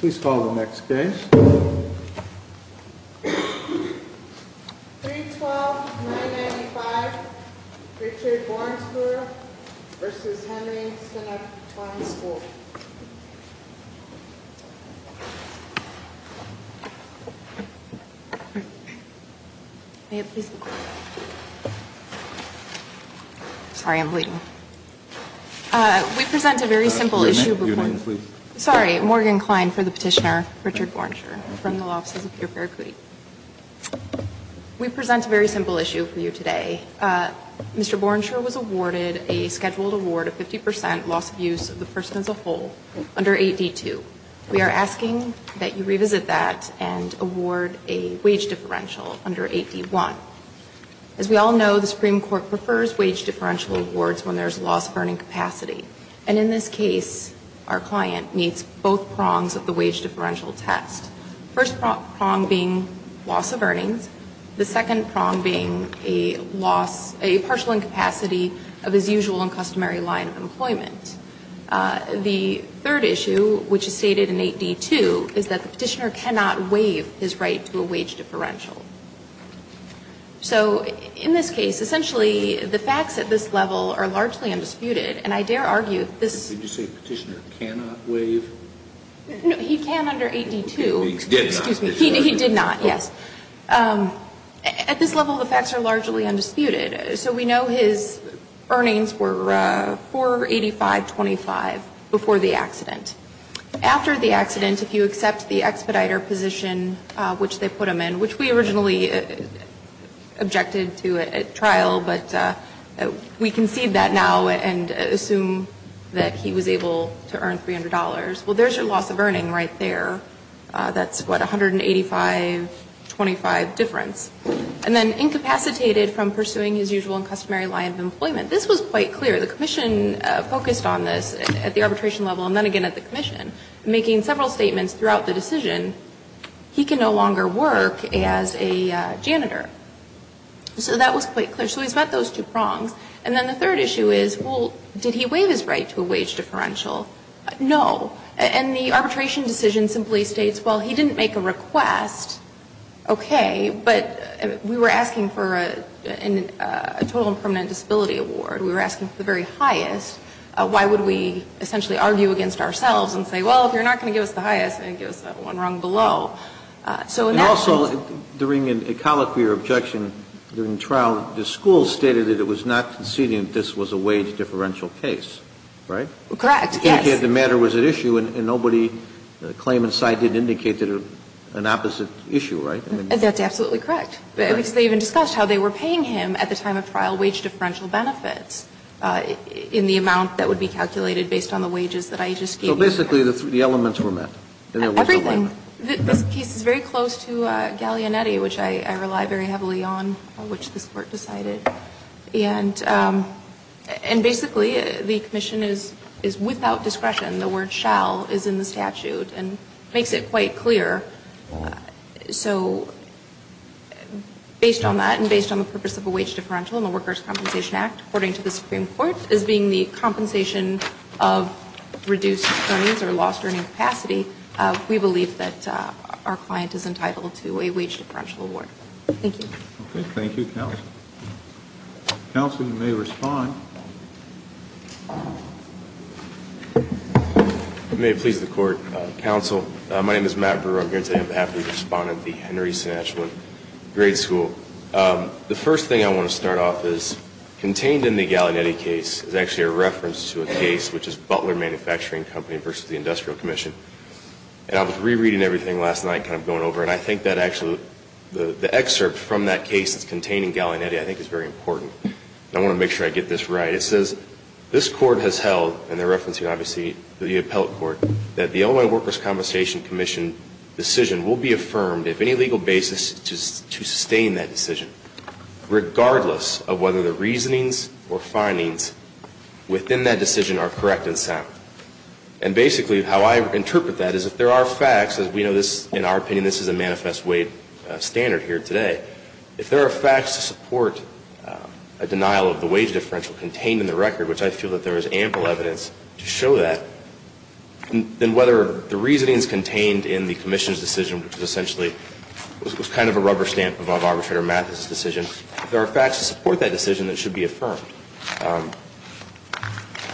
Please call the next case. 312-995 Richard Borenscheurer v. Henry Senachwine School We present a very simple issue for you today. Mr. Borenscheurer was awarded a scheduled award of 50% loss of use of the person as a whole under 8D2. We are asking that you revisit that and award a wage differential under 8D1. As we all know, the Supreme Court has a lot of earnings capacity. And in this case, our client meets both prongs of the wage differential test. First prong being loss of earnings. The second prong being a loss, a partial incapacity of his usual and customary line of employment. The third issue, which is stated in 8D2, is that the petitioner cannot waive his right to a wage differential. So in this case, essentially, the facts at this level are largely undisputed. And I dare argue this ---- Did you say petitioner cannot waive? No. He can under 8D2. He did not. Excuse me. He did not, yes. At this level, the facts are largely undisputed. So we know his earnings were 485.25 before the accident. After the accident, if you put him in, which we originally objected to at trial, but we concede that now and assume that he was able to earn $300. Well, there's your loss of earning right there. That's, what, 185.25 difference. And then incapacitated from pursuing his usual and customary line of employment. This was quite clear. The commission focused on this at the arbitration level and then again at the commission, making several statements throughout the decision, he can no longer work as a janitor. So that was quite clear. So he's met those two prongs. And then the third issue is, well, did he waive his right to a wage differential? No. And the arbitration decision simply states, well, he didn't make a request, okay, but we were asking for a total and permanent disability award. We were asking for the very highest. Why would we essentially argue against ourselves and say, well, if you're not going to give us the highest, then give us that one rung below. So in that sense. And also, during a colloquy or objection during trial, the school stated that it was not conceding that this was a wage differential case, right? Correct, yes. Indicated the matter was at issue and nobody, the claimant's side didn't indicate that it was an opposite issue, right? That's absolutely correct. Because they even discussed how they were paying him at the time of trial wage differential benefits in the amount that would be calculated based on the wages that I just gave you. So basically the elements were met. Everything. This case is very close to Gallianetti, which I rely very heavily on, which this Court decided. And basically the commission is without discretion. The word shall is in the statute and makes it quite clear. So based on that and based on the purpose of a wage differential in the Workers Compensation Act, according to the Supreme Court, as being the compensation of reduced earnings or lost earning capacity, we believe that our client is entitled to a wage differential award. Thank you. Okay. Thank you, counsel. Counsel, you may respond. May it please the Court. Counsel, my name is Matt Brewer. I'm here today on behalf of the respondent, the Henry Sinatchewan Grade School. The first thing I want to start off is contained in the Gallianetti case is actually a reference to a case, which is Butler Manufacturing Company versus the Industrial Commission. And I was rereading everything last night, kind of going over, and I think that actually the excerpt from that case that's contained in Gallianetti I think is very important. I want to make sure I get this right. It says, this Court has held, and they're referencing obviously the appellate court, that the Illinois Workers' Compensation Commission decision will be affirmed if any legal basis to sustain that decision, regardless of whether the reasonings or findings within that decision are correct and sound. And basically how I interpret that is if there are facts, as we know this, in our opinion, this is a manifest weight standard here today, if there are facts to support a denial of the wage differential contained in the record, which I feel that there is ample evidence to show that, then whether the reasonings contained in the commission's decision, which was essentially, was kind of a rubber stamp above Arbitrator Mathis' decision, if there are facts to support that decision, it should be affirmed.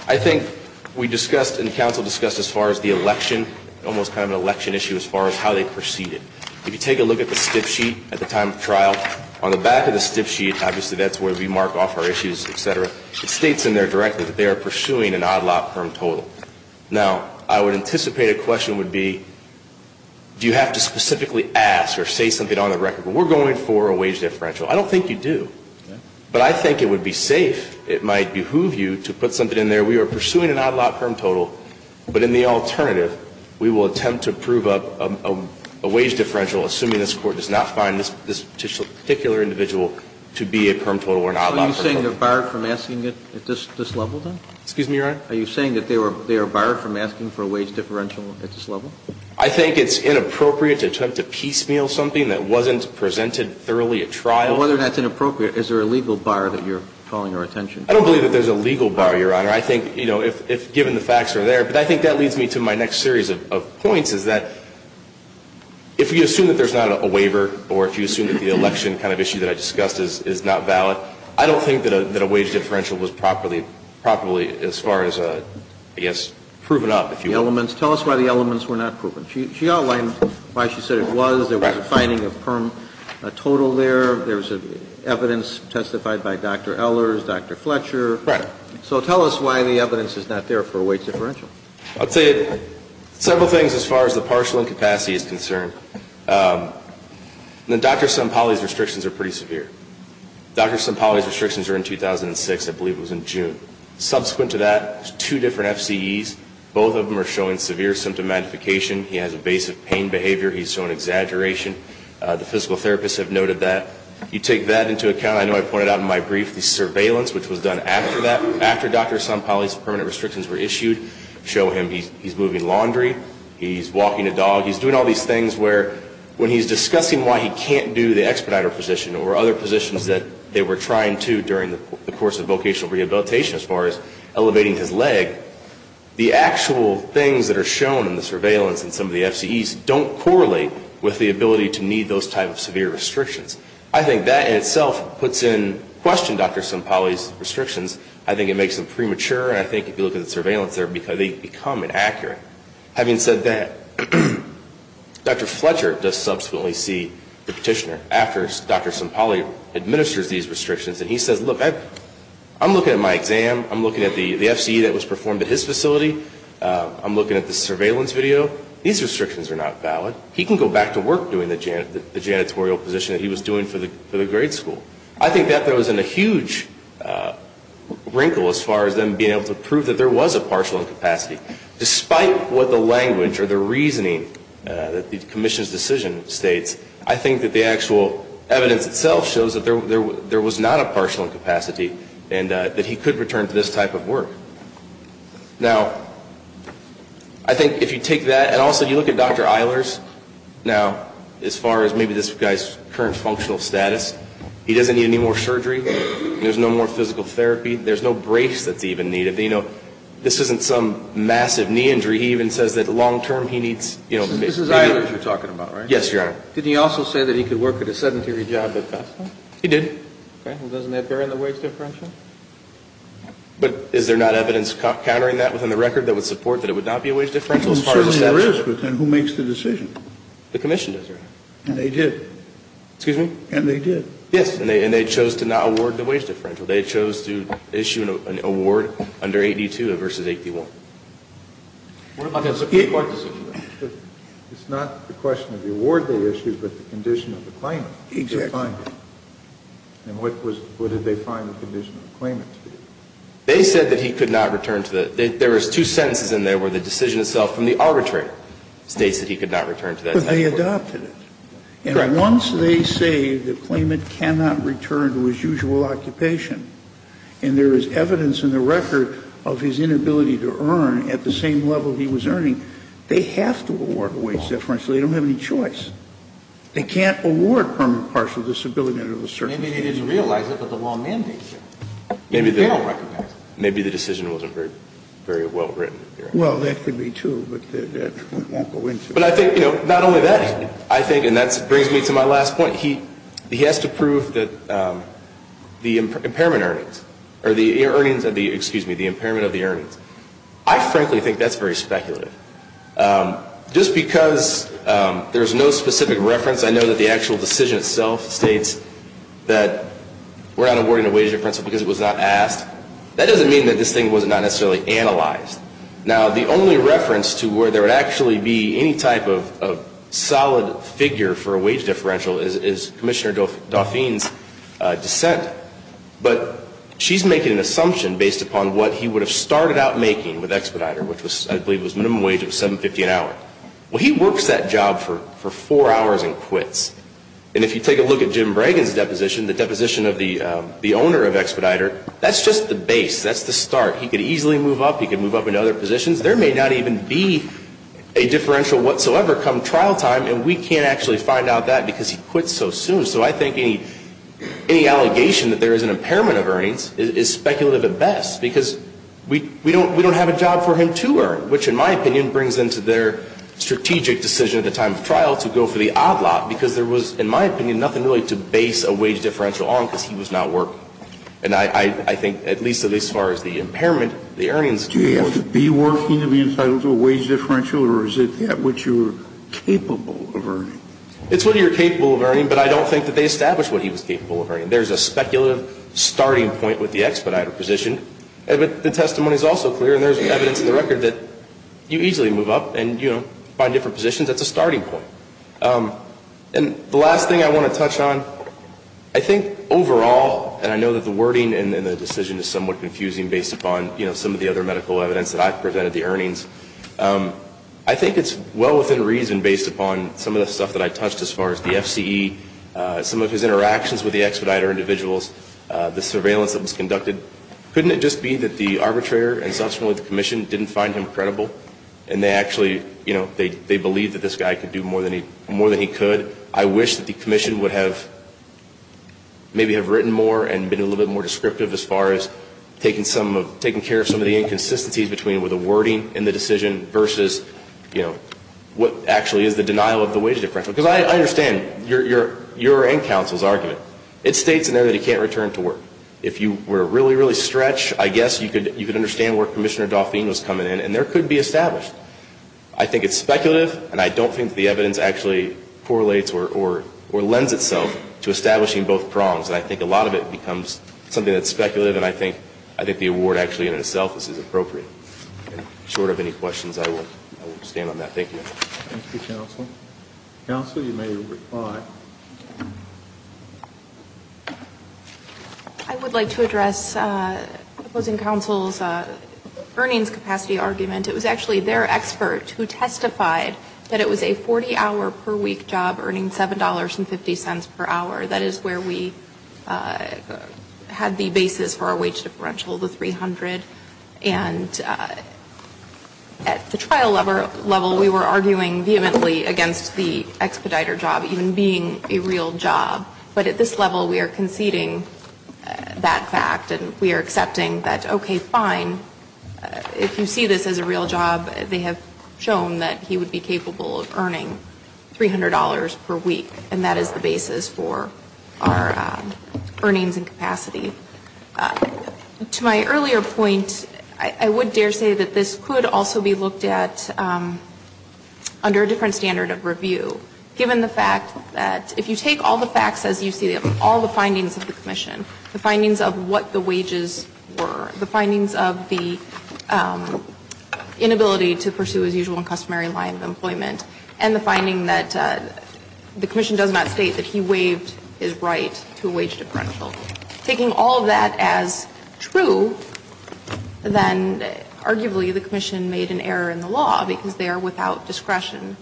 I think we discussed and counsel discussed as far as the election, almost kind of an election issue as far as how they proceeded. If you take a look at the stiff sheet at the time of trial, on the back of the stiff sheet, obviously that's where we mark off our issues, et cetera, it states in there directly that they are pursuing an odd-lot perm total. Now, I would anticipate a question would be, do you have to specifically ask or say something on the record, we're going for a wage differential. I don't think you do. But I think it would be safe, it might behoove you to put something in there, we are pursuing an odd-lot perm total, but in the alternative, we will attempt to prove a wage differential, assuming this Court does not find this particular individual to be a perm total or an odd-lot perm total. Kennedy Are you saying they are barred from asking for a wage differential at this level? I think it's inappropriate to attempt to piecemeal something that wasn't presented thoroughly at trial. Whether that's inappropriate, is there a legal bar that you're calling our attention to? I don't believe that there's a legal bar, Your Honor. I think, you know, if given the facts are there. But I think that leads me to my next series of points, is that if you assume that there's not a waiver or if you assume that the election kind of issue that I discussed is not valid, I don't think that a wage differential was properly as far as, I guess, proven up, if you will. The elements. Tell us why the elements were not proven. She outlined why she said it was. There was a finding of perm total there. There's evidence testified by Dr. Ehlers, Dr. Fletcher. Right. So tell us why the evidence is not there for a wage differential. I would say several things as far as the partial incapacity is concerned. The Dr. Sampali's restrictions are pretty severe. Dr. Sampali's restrictions are in 2006. I believe it was in June. Subsequent to that, there's two different FCEs. Both of them are showing severe symptom magnification. He has a base of pain behavior. He's showing exaggeration. The physical therapists have noted that. You take that into account. I know I pointed out in my brief the surveillance, which was done after that, after Dr. He's walking a dog. He's doing all these things where when he's discussing why he can't do the expediter position or other positions that they were trying to during the course of vocational rehabilitation as far as elevating his leg, the actual things that are shown in the surveillance in some of the FCEs don't correlate with the ability to meet those types of severe restrictions. I think that in itself puts in question Dr. Sampali's restrictions. I think it makes them premature. And I think if you look at the surveillance, they become inaccurate. Having said that, Dr. Fletcher does subsequently see the petitioner after Dr. Sampali administers these restrictions. And he says, look, I'm looking at my exam. I'm looking at the FCE that was performed at his facility. I'm looking at the surveillance video. These restrictions are not valid. He can go back to work doing the janitorial position that he was doing for the grade school. I think that throws in a huge wrinkle as far as them being able to prove that there was a partial incapacity. Despite what the language or the reasoning that the commission's decision states, I think that the actual evidence itself shows that there was not a partial incapacity, and that he could return to this type of work. Now, I think if you take that, and also you look at Dr. Eilers now, as far as maybe this guy's current functional status, he doesn't need any more surgery. There's no more physical therapy. There's no brace that's even needed. You know, this isn't some massive knee injury. He even says that long term he needs, you know, This is Eilers you're talking about, right? Yes, Your Honor. Did he also say that he could work at a sedentary job at the hospital? He did. Okay. Well, doesn't that bear on the wage differential? But is there not evidence countering that within the record that would support that it would not be a wage differential as part of the statute? Well, certainly there is, but then who makes the decision? The commission does, Your Honor. And they did. Excuse me? And they did. Yes. And they chose to not award the wage differential. They chose to issue an award under 8D2 versus 8D1. It's not the question of the award they issued, but the condition of the claimant. Exactly. And what was, what did they find the condition of the claimant to be? They said that he could not return to the, there was two sentences in there where the decision itself from the arbitrator states that he could not return to that. But they adopted it. Correct. Once they say the claimant cannot return to his usual occupation, and there is evidence in the record of his inability to earn at the same level he was earning, they have to award a wage differential. They don't have any choice. They can't award permanent partial disability under the circumstances. Maybe they didn't realize it, but the law mandates it. Maybe the decision wasn't very well written. Well, that could be, too, but that won't go into it. But I think, you know, not only that, I think, and that brings me to my last point, he has to prove that the impairment earnings, or the earnings of the, excuse me, the impairment of the earnings. I frankly think that's very speculative. Just because there's no specific reference, I know that the actual decision itself states that we're not awarding a wage differential because it was not asked. That doesn't mean that this thing was not necessarily analyzed. Now, the only reference to where there would actually be any type of solid figure for a wage differential is Commissioner Dauphine's dissent. But she's making an assumption based upon what he would have started out making with Expediter, which I believe was minimum wage of $7.50 an hour. Well, he works that job for four hours and quits. And if you take a look at Jim Bragan's deposition, the deposition of the owner of Expediter, that's just the base. That's the start. He could easily move up. He could move up into other positions. There may not even be a differential whatsoever come trial time, and we can't actually find out that because he quits so soon. So I think any allegation that there is an impairment of earnings is speculative at best, because we don't have a job for him to earn, which in my opinion brings into their strategic decision at the time of trial to go for the odd lot, because there was, in my opinion, nothing really to base a wage differential on because he was not working. And I think at least as far as the impairment, the earnings do work. Do you have to be working to be entitled to a wage differential, or is it what you're capable of earning? It's what you're capable of earning, but I don't think that they established what he was capable of earning. There's a speculative starting point with the Expediter position. The testimony is also clear, and there's evidence in the record that you easily move up and, you know, find different positions. That's a starting point. And the last thing I want to touch on, I think overall, and I know that the wording in the decision is somewhat confusing based upon, you know, some of the other medical evidence that I've presented, the earnings. I think it's well within reason based upon some of the stuff that I touched as far as the FCE, some of his interactions with the Expediter individuals, the surveillance that was conducted. Couldn't it just be that the arbitrator and subsequently the commission didn't find him credible, and they actually, you know, they believed that this guy could do more than he could? I wish that the commission would have maybe have written more and been a little bit more descriptive as far as taking care of some of the inconsistencies between the wording in the decision versus, you know, what actually is the denial of the wage differential. Because I understand your end counsel's argument. It states in there that he can't return to work. If you were really, really stretched, I guess you could understand where Commissioner Dauphine was coming in, and there could be established. I think it's speculative, and I don't think the evidence actually correlates or lends itself to establishing both prongs. And I think a lot of it becomes something that's speculative, and I think the award actually in itself is appropriate. Short of any questions, I will stand on that. Thank you. Thank you, counsel. Counsel, you may reply. I would like to address opposing counsel's earnings capacity argument. It was actually their expert who testified that it was a 40-hour-per-week job earning $7.50 per hour. That is where we had the basis for our wage differential, the 300. And at the trial level, we were arguing vehemently against the expediter job, even being a real job. But at this level, we are conceding that fact, and we are accepting that, okay, fine. If you see this as a real job, they have shown that he would be capable of earning $300 per week, and that is the basis for our earnings and capacity. To my earlier point, I would dare say that this could also be looked at under a different standard of review. Given the fact that if you take all the facts as you see them, all the findings of the commission, the findings of what the wages were, the findings of the inability to pursue his usual and customary line of employment, and the finding that the commission does not state that he waived his right to a wage differential, taking all of that true, then arguably the commission made an error in the law, because they are without discretion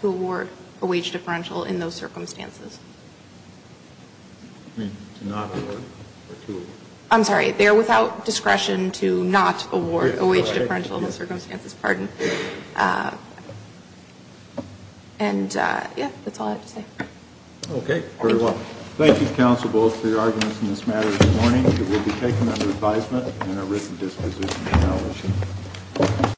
to award a wage differential in those circumstances. I'm sorry. They are without discretion to not award a wage differential in those circumstances. Pardon. And, yeah, that's all I have to say. Okay. Very well. Thank you, Counsel Bullock, for your arguments in this matter this morning. It will be taken under advisement and a written disposition of knowledge.